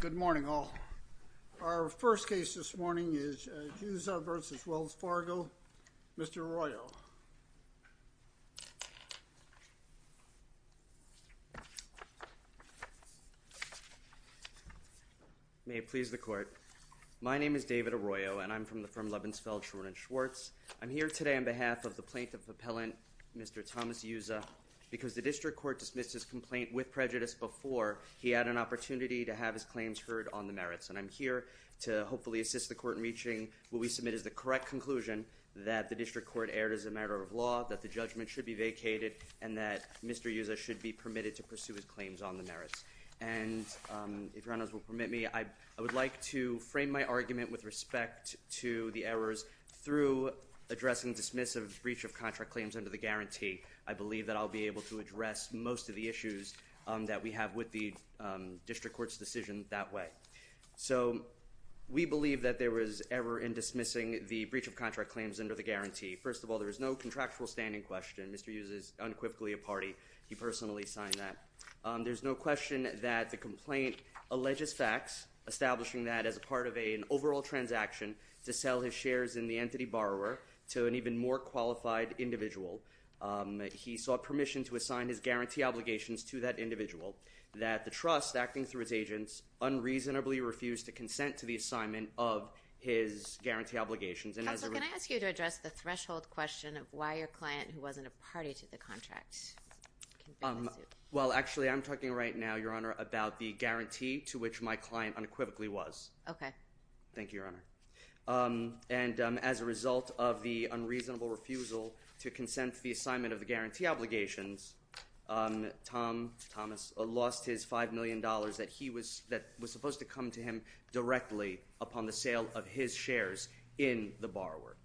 Good morning all. Our first case this morning is Juza v. Wells Fargo, Mr. Arroyo. May it please the court. My name is David Arroyo and I'm from the firm Lebensfeld, Schwerin & Schwartz. I'm here today on behalf of the plaintiff appellant, Mr. Thomas Juza, because the district court dismissed his complaint with prejudice before he had an opportunity to have his claims heard on the merits. And I'm here to hopefully assist the court in reaching what we submit is the correct conclusion that the district court erred as a matter of law, that the judgment should be vacated, and that Mr. Juza should be permitted to pursue his claims on the merits. And if your honors will permit me, I would like to frame my argument with respect to the errors through addressing dismissive breach of contract claims under the guarantee. I believe that I'll be able to address most of the issues that we have with the district court's decision that way. So we believe that there was error in dismissing the breach of contract claims under the guarantee. First of all, there is no contractual standing question. Mr. Juza is unequivocally a party. He personally signed that. There's no question that the complaint alleges facts, establishing that as a part of an overall transaction to sell his shares in the entity borrower to an even more qualified individual. He sought permission to assign his guarantee obligations to that individual, that the trust acting through his agents unreasonably refused to consent to the assignment of his guarantee obligations. Counselor, can I ask you to address the threshold question of why your client, who wasn't a party to the contract, can bring the suit? Well actually I'm talking right now, your honor, about the guarantee to which my client unequivocally was. Okay. Thank you, your honor. And as a result of the unreasonable refusal to consent to the assignment of the guarantee obligations, Tom Thomas lost his $5 million that was supposed to come to him directly upon the sale of his shares in the borrower.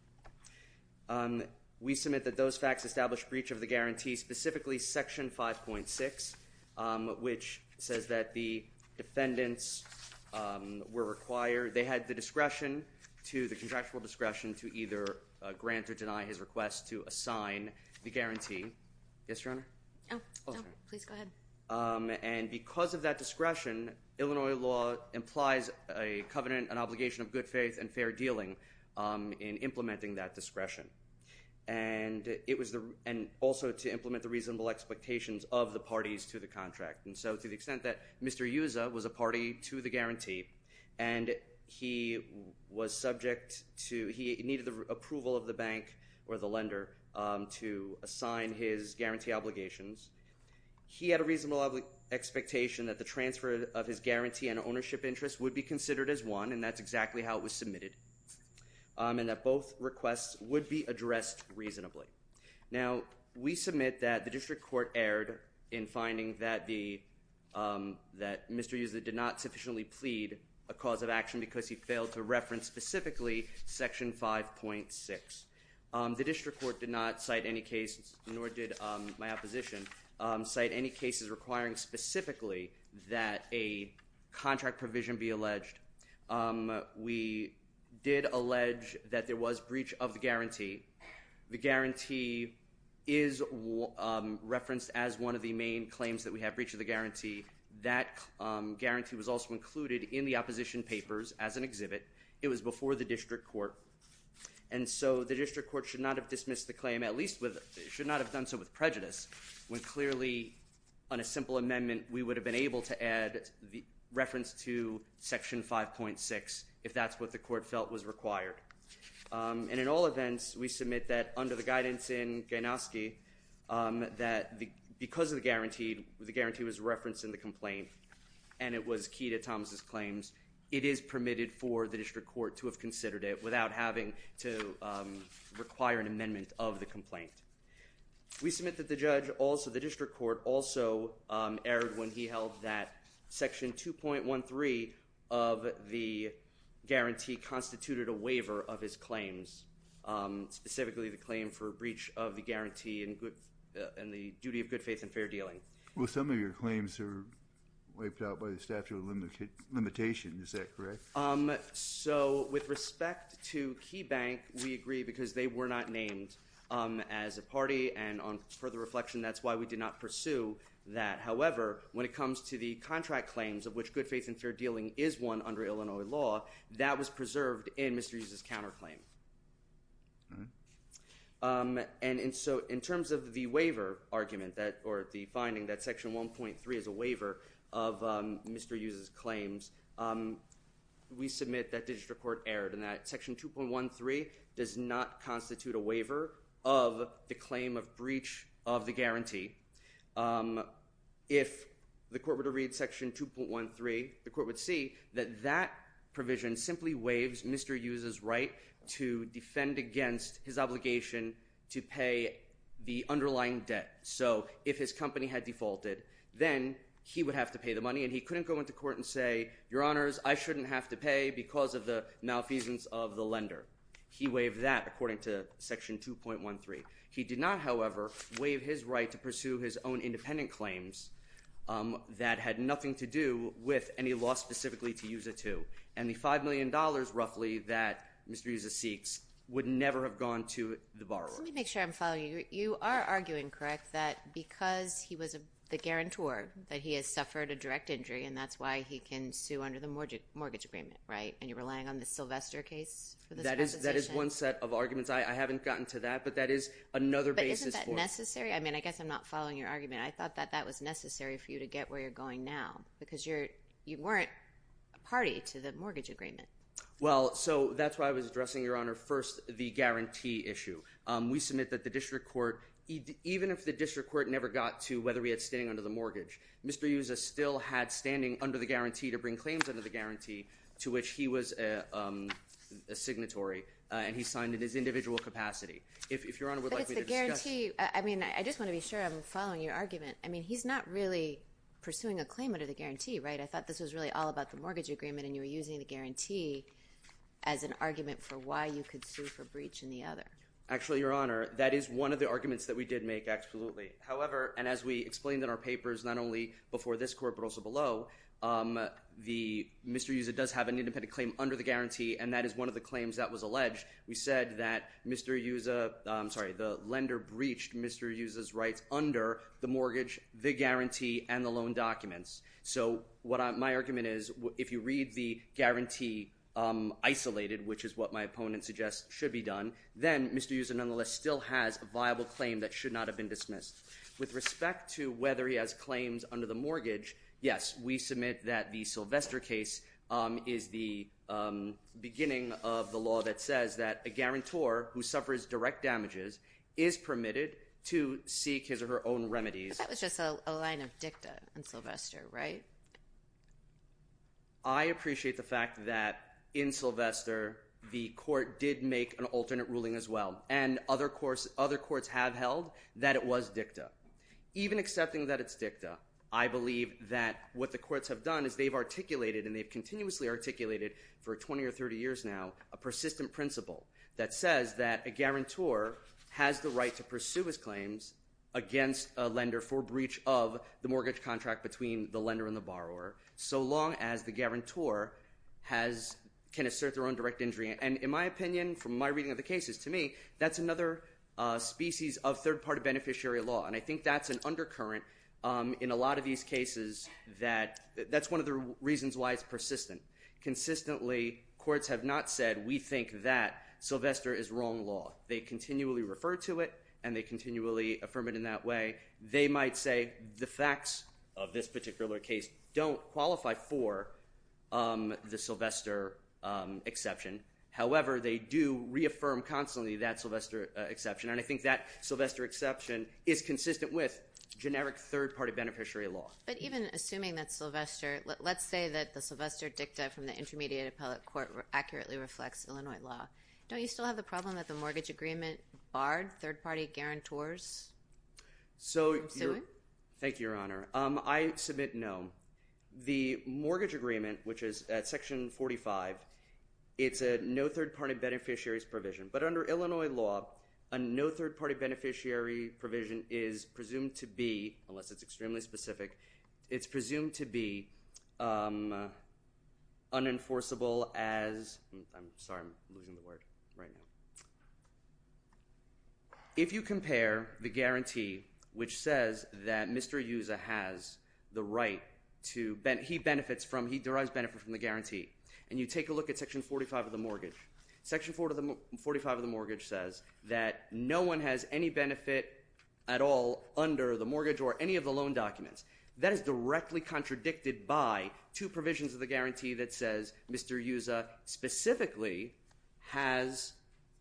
We submit that those facts establish breach of the guarantee, specifically section 5.6, which says that the defendants were required, they had the discretion to, the contractual discretion to either grant or deny his request to assign the guarantee. Yes, your honor? Oh, no, please go ahead. And because of that discretion, Illinois law implies a covenant, an obligation of good faith and fair dealing in implementing that discretion. And also to implement the reasonable expectations of the parties to the contract. And so to the extent that Mr. Yuzza was a party to the guarantee and he was subject to, he needed the approval of the bank or the lender to assign his guarantee obligations, he had a reasonable expectation that the transfer of his guarantee and ownership interest would be considered as one, and that's exactly how it was submitted, and that both requests would be addressed reasonably. Now we submit that the district court erred in finding that Mr. Yuzza did not sufficiently plead a cause of action because he failed to reference specifically section 5.6. The district court did not cite any cases, nor did my opposition, cite any cases requiring specifically that a contract provision be alleged. We did allege that there was breach of the guarantee. The guarantee is referenced as one of the main claims that we have, breach of the guarantee. That guarantee was also included in the opposition papers as an exhibit. It was before the district court. And so the district court should not have dismissed the claim, at least should not have done so with prejudice, when clearly on a simple amendment we would have been able to add reference to section 5.6 if that's what the court felt was required. And in all events, we submit that under the guidance in Gainoski that because of the guarantee, the guarantee was referenced in the complaint, and it was key to Thomas's claims, it is permitted for the district court to have considered it without having to require an amendment of the complaint. We submit that the judge also, the district court also erred when he held that section 2.13 of the guarantee constituted a waiver of his claims, specifically the claim for breach of the guarantee and the duty of good faith and fair dealing. Well, some of your claims are wiped out by the statute of limitations, is that correct? So with respect to KeyBank, we agree because they were not named as a party, and on further reflection, that's why we did not pursue that. However, when it comes to the contract claims of which good faith and fair dealing is one under Illinois law, that was preserved in Mr. Hughes' counterclaim. And so in terms of the waiver argument, or the finding that section 1.3 is a waiver of Mr. Hughes' claims, we submit that district court erred and that section 2.13 does not constitute a waiver of the claim of breach of the guarantee. If the court were to read section 2.13, the court would see that that provision simply waives Mr. Hughes' right to defend against his obligation to pay the underlying debt. So if his company had defaulted, then he would have to pay the money and he couldn't go into court and say, your honors, I shouldn't have to pay because of the malfeasance of the lender. He waived that according to section 2.13. He did not, however, waive his right to pursue his own independent claims that had nothing to do with any law specifically to Hughes it to. And the $5 million roughly that Mr. Hughes seeks would never have gone to the borrower. Let me make sure I'm following you. You are arguing, correct, that because he was the guarantor, that he has suffered a direct injury and that's why he can sue under the mortgage agreement, right? And you're relying on the Sylvester case for this accusation? That is one set of arguments. I haven't gotten to that, but that is another basis for it. But isn't that necessary? I mean, I guess I'm not following your argument. I thought that that was necessary for you to get where you're going now because you weren't a party to the mortgage agreement. Well, so that's why I was addressing, your honor, first the guarantee issue. We submit that the district court, even if the district court never got to whether we had standing under the mortgage, Mr. Hughes still had standing under the guarantee to bring claims under the guarantee to which he was a signatory and he signed in his individual capacity. If your honor would like me to discuss. But it's the guarantee. I mean, I just want to be sure I'm following your argument. I mean, he's not really pursuing a claim under the guarantee, right? I thought this was really all about the mortgage agreement and you were using the guarantee as an argument for why you could sue for breach in the other. Actually, your honor, that is one of the arguments that we did make, absolutely. However, and as we explained in our papers, not only before this court but also below, the Mr. Hughes does have an independent claim under the guarantee and that is one of the claims that was alleged. We said that Mr. Hughes, I'm sorry, the lender breached Mr. Hughes' rights under the mortgage, the guarantee, and the loan documents. So what my argument is, if you read the guarantee isolated, which is what my opponent suggests should be done, then Mr. Hughes nonetheless still has a viable claim that should not have been dismissed. With respect to whether he has claims under the mortgage, yes, we submit that the Sylvester case is the beginning of the law that says that a guarantor who suffers direct damages is permitted to seek his or her own remedies. That was just a line of dicta in Sylvester, right? I appreciate the fact that in Sylvester the court did make an alternate ruling as well and other courts have held that it was dicta. Even accepting that it's dicta, I believe that what the courts have done is they've articulated and they've continuously articulated for 20 or 30 years now a persistent principle that says that a guarantor has the right to pursue his claims against a lender for breach of the mortgage contract between the lender and the borrower, so long as the guarantor can assert their own direct injury. And in my opinion, from my reading of the cases, to me, that's another species of third party beneficiary law and I think that's an undercurrent in a lot of these cases. That's one of the reasons why it's persistent. Consistently courts have not said, we think that Sylvester is wrong law. They continually refer to it and they continually affirm it in that way. They might say, the facts of this particular case don't qualify for the Sylvester exception. However, they do reaffirm constantly that Sylvester exception and I think that Sylvester exception is consistent with generic third party beneficiary law. But even assuming that Sylvester, let's say that the Sylvester dicta from the Intermediate Appellate Court accurately reflects Illinois law, don't you still have the problem that the mortgage agreement barred third party guarantors? So, thank you, Your Honor. I submit no. The mortgage agreement, which is at section 45, it's a no third party beneficiary's provision. But under Illinois law, a no third party beneficiary provision is presumed to be, unless it's extremely specific, it's presumed to be unenforceable as, I'm sorry, I'm losing the word right now. If you compare the guarantee, which says that Mr. Yuza has the right to, he benefits from, he derives benefit from the guarantee, and you take a look at section 45 of the mortgage. Section 45 of the mortgage says that no one has any benefit at all under the mortgage or any of the loan documents. That is directly contradicted by two provisions of the guarantee that says Mr. Yuza specifically has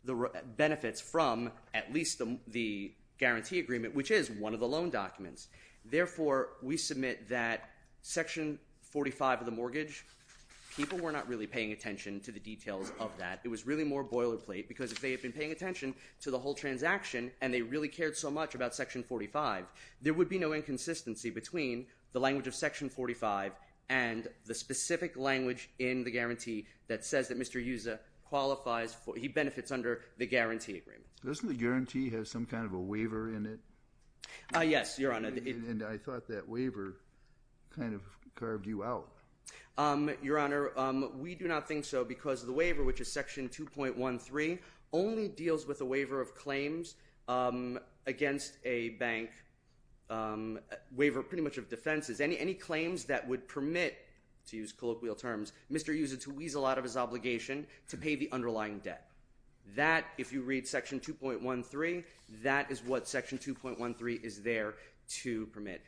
the benefits from at least the guarantee agreement, which is one of the loan documents. Therefore, we submit that section 45 of the mortgage, people were not really paying attention to the details of that. It was really more boilerplate because if they had been paying attention to the whole transaction and they really cared so much about section 45, there would be no inconsistency between the language of section 45 and the specific language in the guarantee that says that Mr. Yuza qualifies for, he benefits under the guarantee agreement. Doesn't the guarantee have some kind of a waiver in it? Yes, Your Honor. And I thought that waiver kind of carved you out. Your Honor, we do not think so because the waiver, which is section 2.13, only deals with a waiver of claims against a bank, waiver pretty much of defenses. Any claims that would permit, to use colloquial terms, Mr. Yuza to weasel out of his obligation to pay the underlying debt. That if you read section 2.13, that is what section 2.13 is there to permit.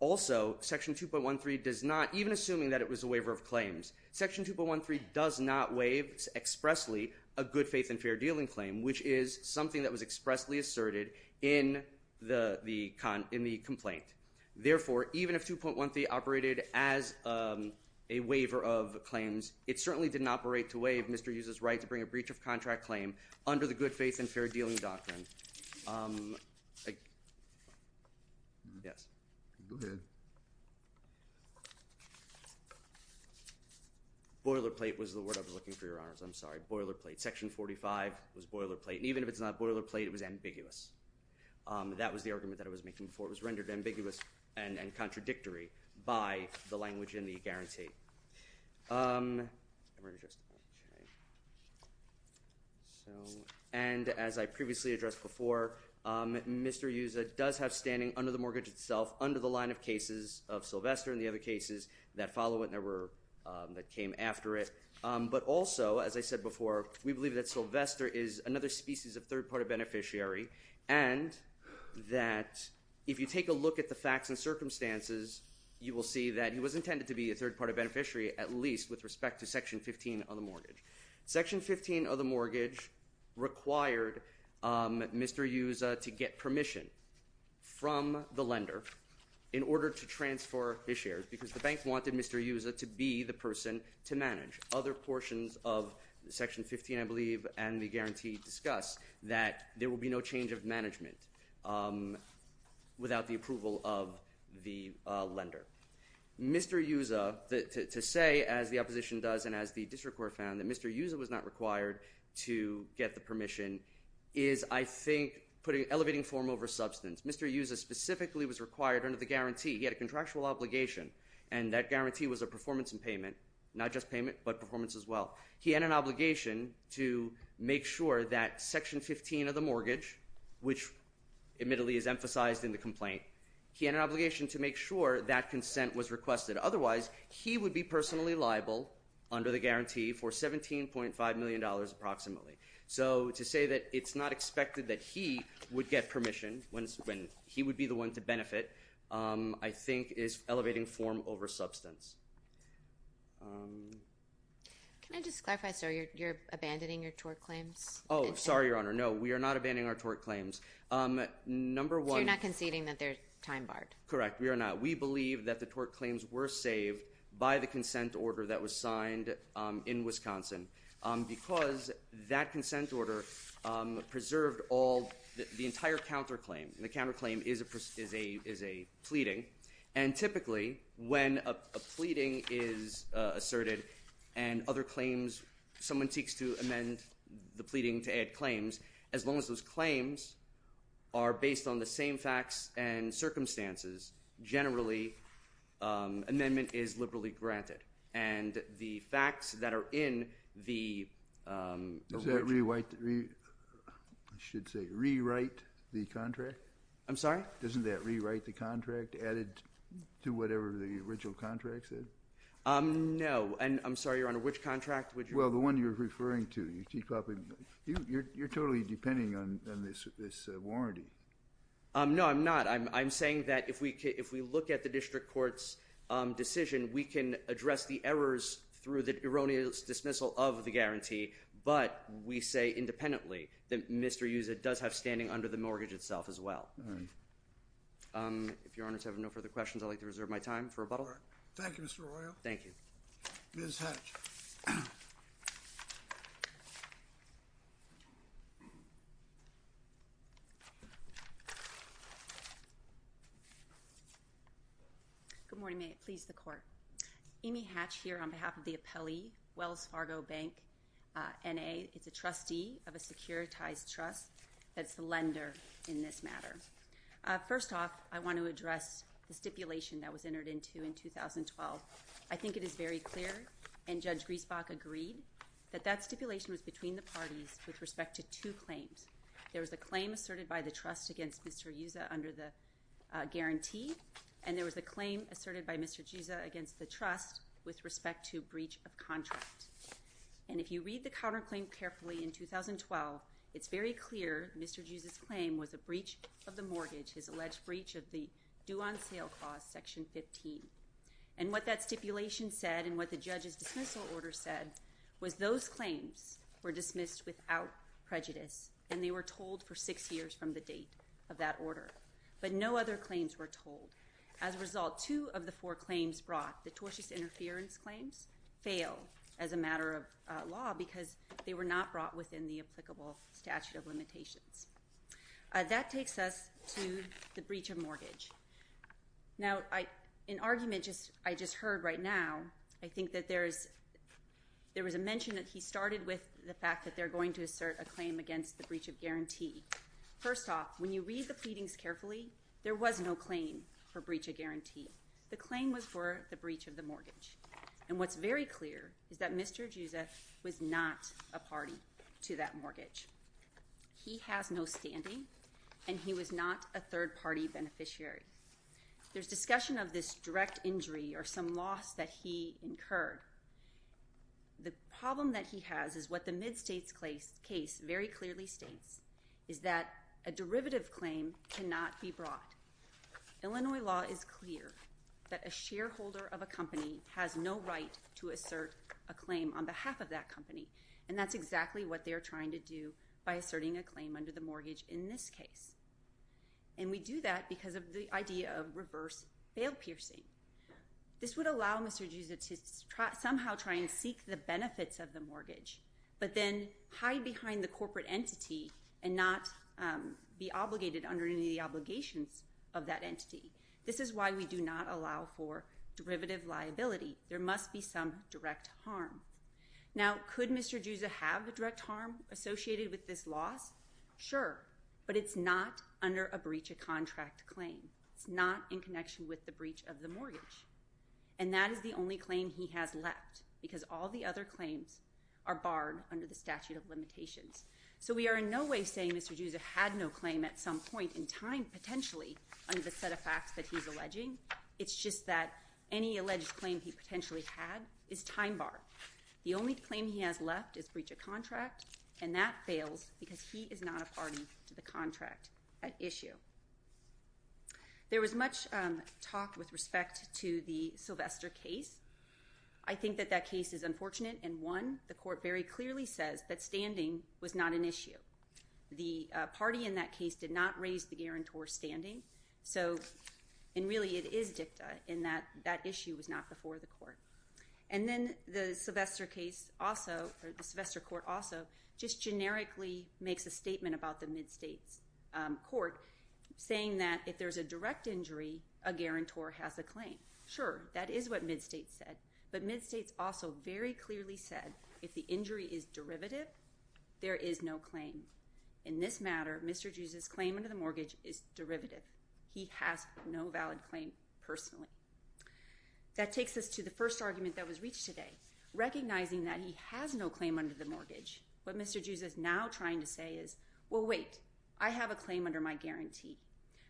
Also, section 2.13 does not, even assuming that it was a waiver of claims, section 2.13 does not waive expressly a good faith and fair dealing claim, which is something that was expressly asserted in the complaint. Therefore, even if 2.13 operated as a waiver of claims, it certainly didn't operate to waive Mr. Yuza's right to bring a breach of contract claim under the good faith and fair dealing doctrine. Yes. Go ahead. Boilerplate was the word I was looking for, Your Honors, I'm sorry, boilerplate. Section 45 was boilerplate, and even if it's not boilerplate, it was ambiguous. That was the argument that I was making before, it was rendered ambiguous and contradictory by the language in the guarantee. And as I previously addressed before, Mr. Yuza does have standing under the mortgage itself under the line of cases of Sylvester and the other cases that follow it that came after it. But also, as I said before, we believe that Sylvester is another species of third-party beneficiary and that if you take a look at the facts and circumstances, you will see that he was intended to be a third-party beneficiary at least with respect to section 15 of the mortgage. Section 15 of the mortgage required Mr. Yuza to get permission from the lender in order to transfer his shares because the bank wanted Mr. Yuza to be the person to manage. Other portions of section 15, I believe, and the guarantee discuss that there will be no change of management without the approval of the lender. Mr. Yuza, to say, as the opposition does and as the district court found, that Mr. Yuza was not required to get the permission is, I think, putting elevating form over substance. Mr. Yuza specifically was required under the guarantee. He had a contractual obligation and that guarantee was a performance in payment, not just payment, but performance as well. He had an obligation to make sure that section 15 of the mortgage, which admittedly is emphasized in the complaint, he had an obligation to make sure that consent was requested. Otherwise, he would be personally liable under the guarantee for $17.5 million approximately. So to say that it's not expected that he would get permission when he would be the one to benefit, I think, is elevating form over substance. Can I just clarify, sir, you're abandoning your tort claims? Oh, sorry, Your Honor. No, we are not abandoning our tort claims. Number one- So you're not conceding that they're time-barred? Correct. We are not. We believe that the tort claims were saved by the consent order that was signed in Wisconsin because that consent order preserved all, the entire counterclaim. And the counterclaim is a pleading. And typically, when a pleading is asserted and other claims, someone seeks to amend the pleading to add claims, as long as those claims are based on the same facts and circumstances, generally, amendment is liberally granted. And the facts that are in the- Does that rewrite, I should say, rewrite the contract? I'm sorry? Doesn't that rewrite the contract added to whatever the original contract said? No. And I'm sorry, Your Honor, which contract would you- Well, the one you're referring to. You're totally depending on this warranty. No, I'm not. I'm saying that if we look at the district court's decision, we can address the errors through the erroneous dismissal of the guarantee. But we say, independently, that Mr. Usa does have standing under the mortgage itself as well. If Your Honors have no further questions, I'd like to reserve my time for rebuttal. Thank you, Mr. Arroyo. Thank you. Ms. Hatch. Good morning. May it please the Court. Amy Hatch here on behalf of the appellee, Wells Fargo Bank, N.A. It's a trustee of a securitized trust that's the lender in this matter. First off, I want to address the stipulation that was entered into in 2012. I think it is very clear, and Judge Griesbach agreed, that that stipulation was between the parties with respect to two claims. There was a claim asserted by the trust against Mr. Usa under the mortgage clause. Guaranteed. And there was a claim asserted by Mr. Usa against the trust with respect to breach of contract. And if you read the counterclaim carefully in 2012, it's very clear Mr. Usa's claim was a breach of the mortgage, his alleged breach of the due-on-sale clause, section 15. And what that stipulation said, and what the judge's dismissal order said, was those claims were dismissed without prejudice. And they were told for six years from the date of that order. But no other claims were told. As a result, two of the four claims brought, the tortious interference claims, failed as a matter of law because they were not brought within the applicable statute of limitations. That takes us to the breach of mortgage. Now, an argument I just heard right now, I think that there was a mention that he started with the fact that they're going to assert a claim against the breach of guarantee. First off, when you read the pleadings carefully, there was no claim for breach of guarantee. The claim was for the breach of the mortgage. And what's very clear is that Mr. Usa was not a party to that mortgage. He has no standing, and he was not a third-party beneficiary. There's discussion of this direct injury or some loss that he incurred. The problem that he has is what the Mid-States case very clearly states, is that a derivative claim cannot be brought. Illinois law is clear that a shareholder of a company has no right to assert a claim on behalf of that company. And that's exactly what they're trying to do by asserting a claim under the mortgage in this case. And we do that because of the idea of reverse bail piercing. This would allow Mr. Usa to somehow try and seek the benefits of the mortgage, but then hide behind the corporate entity and not be obligated under any of the obligations of that entity. This is why we do not allow for derivative liability. There must be some direct harm. Now, could Mr. Usa have a direct harm associated with this loss? Sure. But it's not under a breach of contract claim. It's not in connection with the breach of the mortgage. And that is the only claim he has left because all the other claims are barred under the statute of limitations. So we are in no way saying Mr. Usa had no claim at some point in time potentially under the set of facts that he's alleging. It's just that any alleged claim he potentially had is time barred. The only claim he has left is breach of contract, and that fails because he is not a party to the contract at issue. There was much talk with respect to the Sylvester case. I think that that case is unfortunate in one, the court very clearly says that standing was not an issue. The party in that case did not raise the guarantor's standing. And really, it is dicta in that that issue was not before the court. And then the Sylvester case also, or the Sylvester court also, just generically makes a statement about the Mid-States court saying that if there's a direct injury, a guarantor has a claim. Sure, that is what Mid-States said. But Mid-States also very clearly said if the injury is derivative, there is no claim. In this matter, Mr. Usa's claim under the mortgage is derivative. He has no valid claim personally. That takes us to the first argument that was reached today. Recognizing that he has no claim under the mortgage, what Mr. Usa is now trying to say is, well, wait, I have a claim under my guarantee.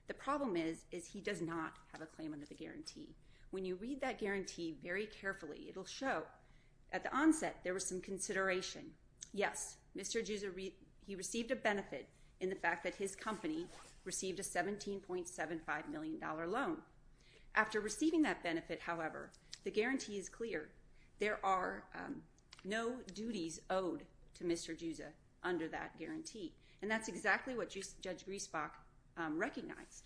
The problem is, is he does not have a claim under the guarantee. When you read that guarantee very carefully, it'll show at the onset there was some consideration. Yes, Mr. Usa, he received a benefit in the fact that his company received a $17.75 million loan. After receiving that benefit, however, the guarantee is clear. There are no duties owed to Mr. Usa under that guarantee. And that's exactly what Judge Griesbach recognized.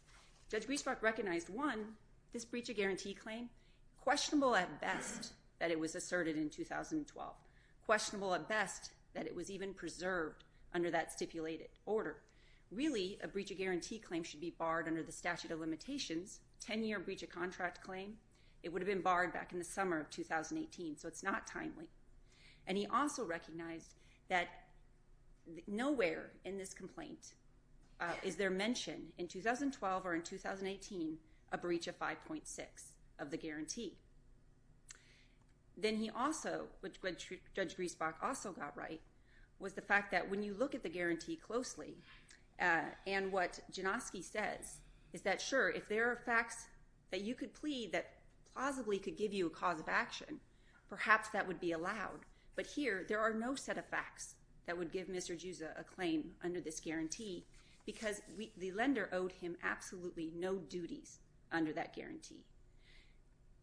Judge Griesbach recognized, one, this breach of guarantee claim. Questionable at best that it was asserted in 2012. Questionable at best that it was even preserved under that stipulated order. Really, a breach of guarantee claim should be barred under the statute of limitations, 10-year breach of contract claim. It would have been barred back in the summer of 2018, so it's not timely. And he also recognized that nowhere in this complaint is there mention in 2012 or in 2018 a breach of 5.6 of the guarantee. Then he also, which Judge Griesbach also got right, was the fact that when you look at the guarantee closely and what Janoski says is that, sure, if there are facts that you could plead that plausibly could give you a cause of action, perhaps that would be allowed. But here, there are no set of facts that would give Mr. Usa a claim under this guarantee because the lender owed him absolutely no duties under that guarantee.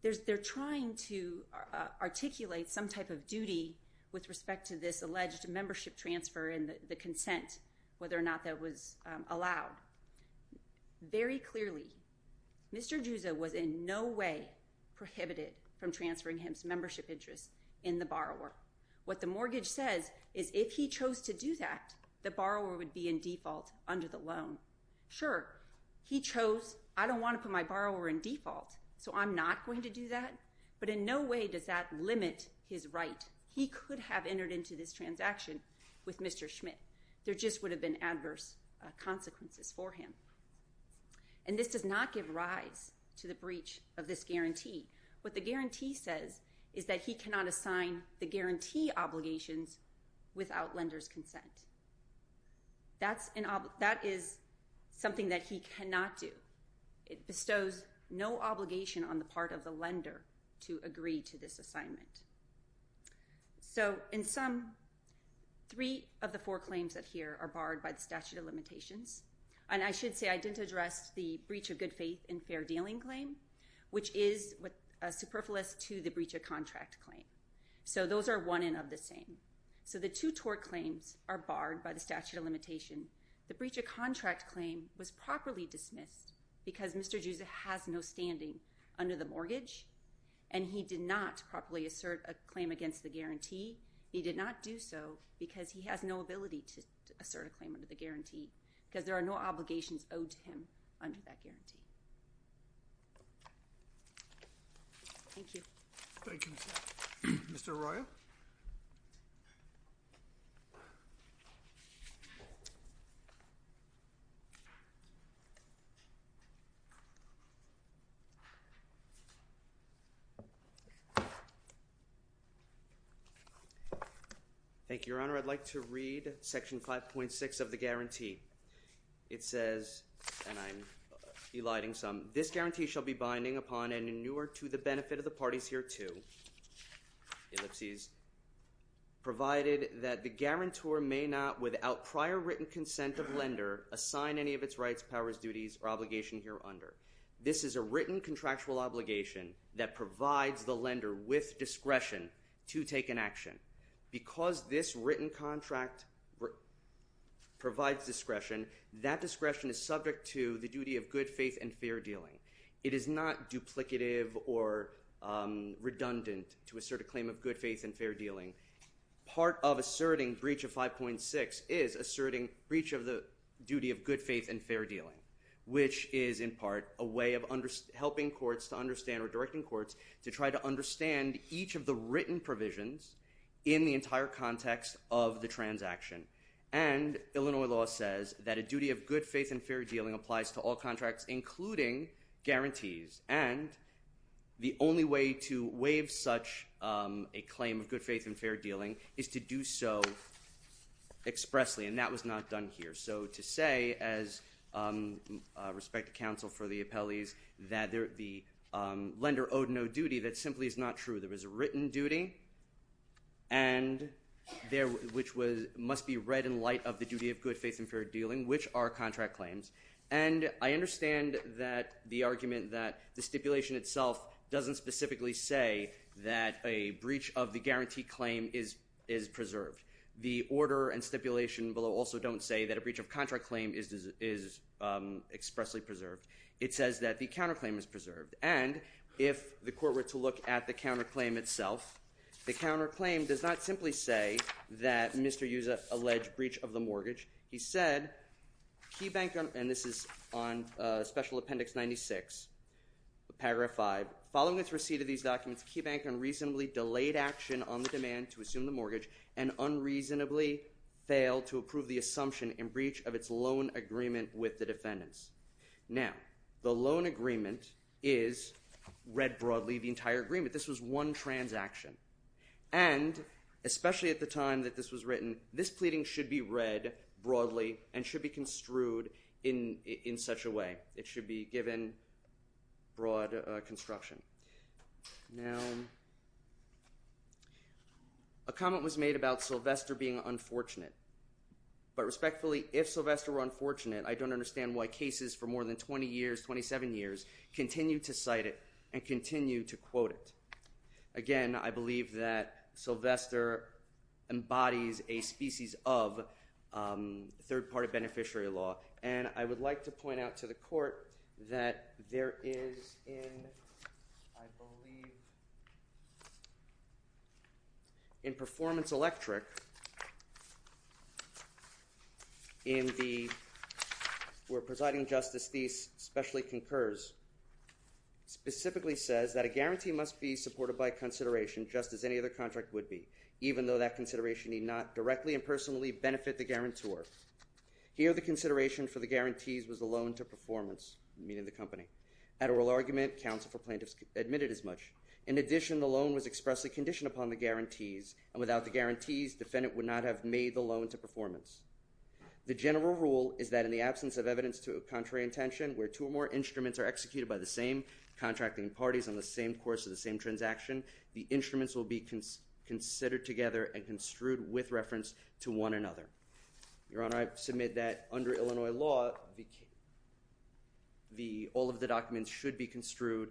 They're trying to articulate some type of duty with respect to this alleged membership transfer and the consent, whether or not that was allowed. Very clearly, Mr. Usa was in no way prohibited from transferring his membership interest in the borrower. What the mortgage says is if he chose to do that, the borrower would be in default under the loan. Sure, he chose, I don't want to put my borrower in default, so I'm not going to do that. But in no way does that limit his right. He could have entered into this transaction with Mr. Schmidt. There just would have been adverse consequences for him. And this does not give rise to the breach of this guarantee. What the guarantee says is that he cannot assign the guarantee obligations without lender's consent. That is something that he cannot do. It bestows no obligation on the part of the lender to agree to this assignment. So in sum, three of the four claims that are here are barred by the statute of limitations. And I should say I didn't address the breach of good faith and fair dealing claim, which is superfluous to the breach of contract claim. So those are one and of the same. So the two tort claims are barred by the statute of limitation. The breach of contract claim was properly dismissed because Mr. Usa has no standing under the mortgage, and he did not properly assert a claim against the guarantee. He did not do so because he has no ability to assert a claim under the guarantee, because there are no obligations owed to him under that guarantee. Thank you. Thank you. Mr. Arroyo. Thank you, Your Honor. I'd like to read section 5.6 of the guarantee. It says, and I'm eliding some, this guarantee shall be binding upon any newer to the benefit of the parties hereto, ellipses, provided that the guarantor may not, without prior written consent of lender, assign any of its rights, powers, duties, or obligation here under. This is a written contractual obligation that provides the lender with discretion to take an action. Because this written contract provides discretion, that discretion is subject to the duty of good faith and fair dealing. It is not duplicative or redundant to assert a claim of good faith and fair dealing. Part of asserting breach of 5.6 is asserting breach of the duty of good faith and fair dealing, which is, in part, a way of helping courts to understand or directing courts to understand each of the written provisions in the entire context of the transaction. And Illinois law says that a duty of good faith and fair dealing applies to all contracts, including guarantees. And the only way to waive such a claim of good faith and fair dealing is to do so expressly. And that was not done here. So to say, as respect to counsel for the appellees, that the lender owed no duty, that simply is not true. There was a written duty, which must be read in light of the duty of good faith and fair dealing, which are contract claims. And I understand that the argument that the stipulation itself doesn't specifically say that a breach of the guarantee claim is preserved. The order and stipulation below also don't say that a breach of contract claim is expressly preserved. It says that the counterclaim is preserved. And if the court were to look at the counterclaim itself, the counterclaim does not simply say that Mr. Yuza alleged breach of the mortgage. He said, KeyBank, and this is on Special Appendix 96, paragraph 5, following its receipt of these documents, KeyBank unreasonably delayed action on the demand to assume the mortgage and unreasonably failed to approve the assumption in breach of its loan agreement with the defendants. Now, the loan agreement is read broadly, the entire agreement. This was one transaction. And especially at the time that this was written, this pleading should be read broadly and should be construed in such a way. It should be given broad construction. Now, a comment was made about Sylvester being unfortunate. But respectfully, if Sylvester were unfortunate, I don't understand why cases for more than 20 years, 27 years, continue to cite it and continue to quote it. Again, I believe that Sylvester embodies a species of third-party beneficiary law. And I would like to point out to the court that there is in, I believe, in Performance Electric, in the, where Presiding Justice Thies specially concurs, specifically says that a guarantee must be supported by consideration just as any other contract would be, even though that consideration need not directly and personally benefit the guarantor. Here, the consideration for the guarantees was the loan to performance, meaning the company. At oral argument, counsel for plaintiffs admitted as much. In addition, the loan was expressly conditioned upon the guarantees. And without the guarantees, defendant would not have made the loan to performance. The general rule is that in the absence of evidence to a contrary intention, where two or more instruments are executed by the same contracting parties on the same course of the same transaction, the instruments will be considered together and construed with reference to one another. Your Honor, I submit that under Illinois law, all of the documents should be construed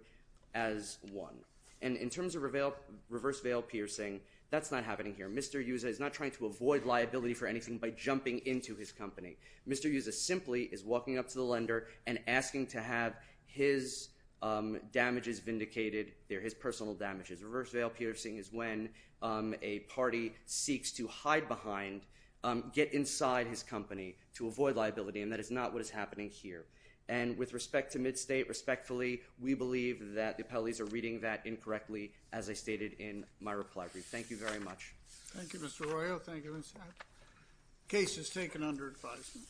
as one. And in terms of reverse veil piercing, that's not happening here. Mr. Uza is not trying to avoid liability for anything by jumping into his company. Mr. Uza simply is walking up to the lender and asking to have his damages vindicated. They're his personal damages. Reverse veil piercing is when a party seeks to hide behind, get inside his company to avoid liability. And that is not what is happening here. And with respect to MidState, respectfully, we believe that the appellees are reading that incorrectly, as I stated in my reply brief. Thank you very much. Thank you, Mr. Arroyo. Thank you, Mr. Abbott. Case is taken under advisement.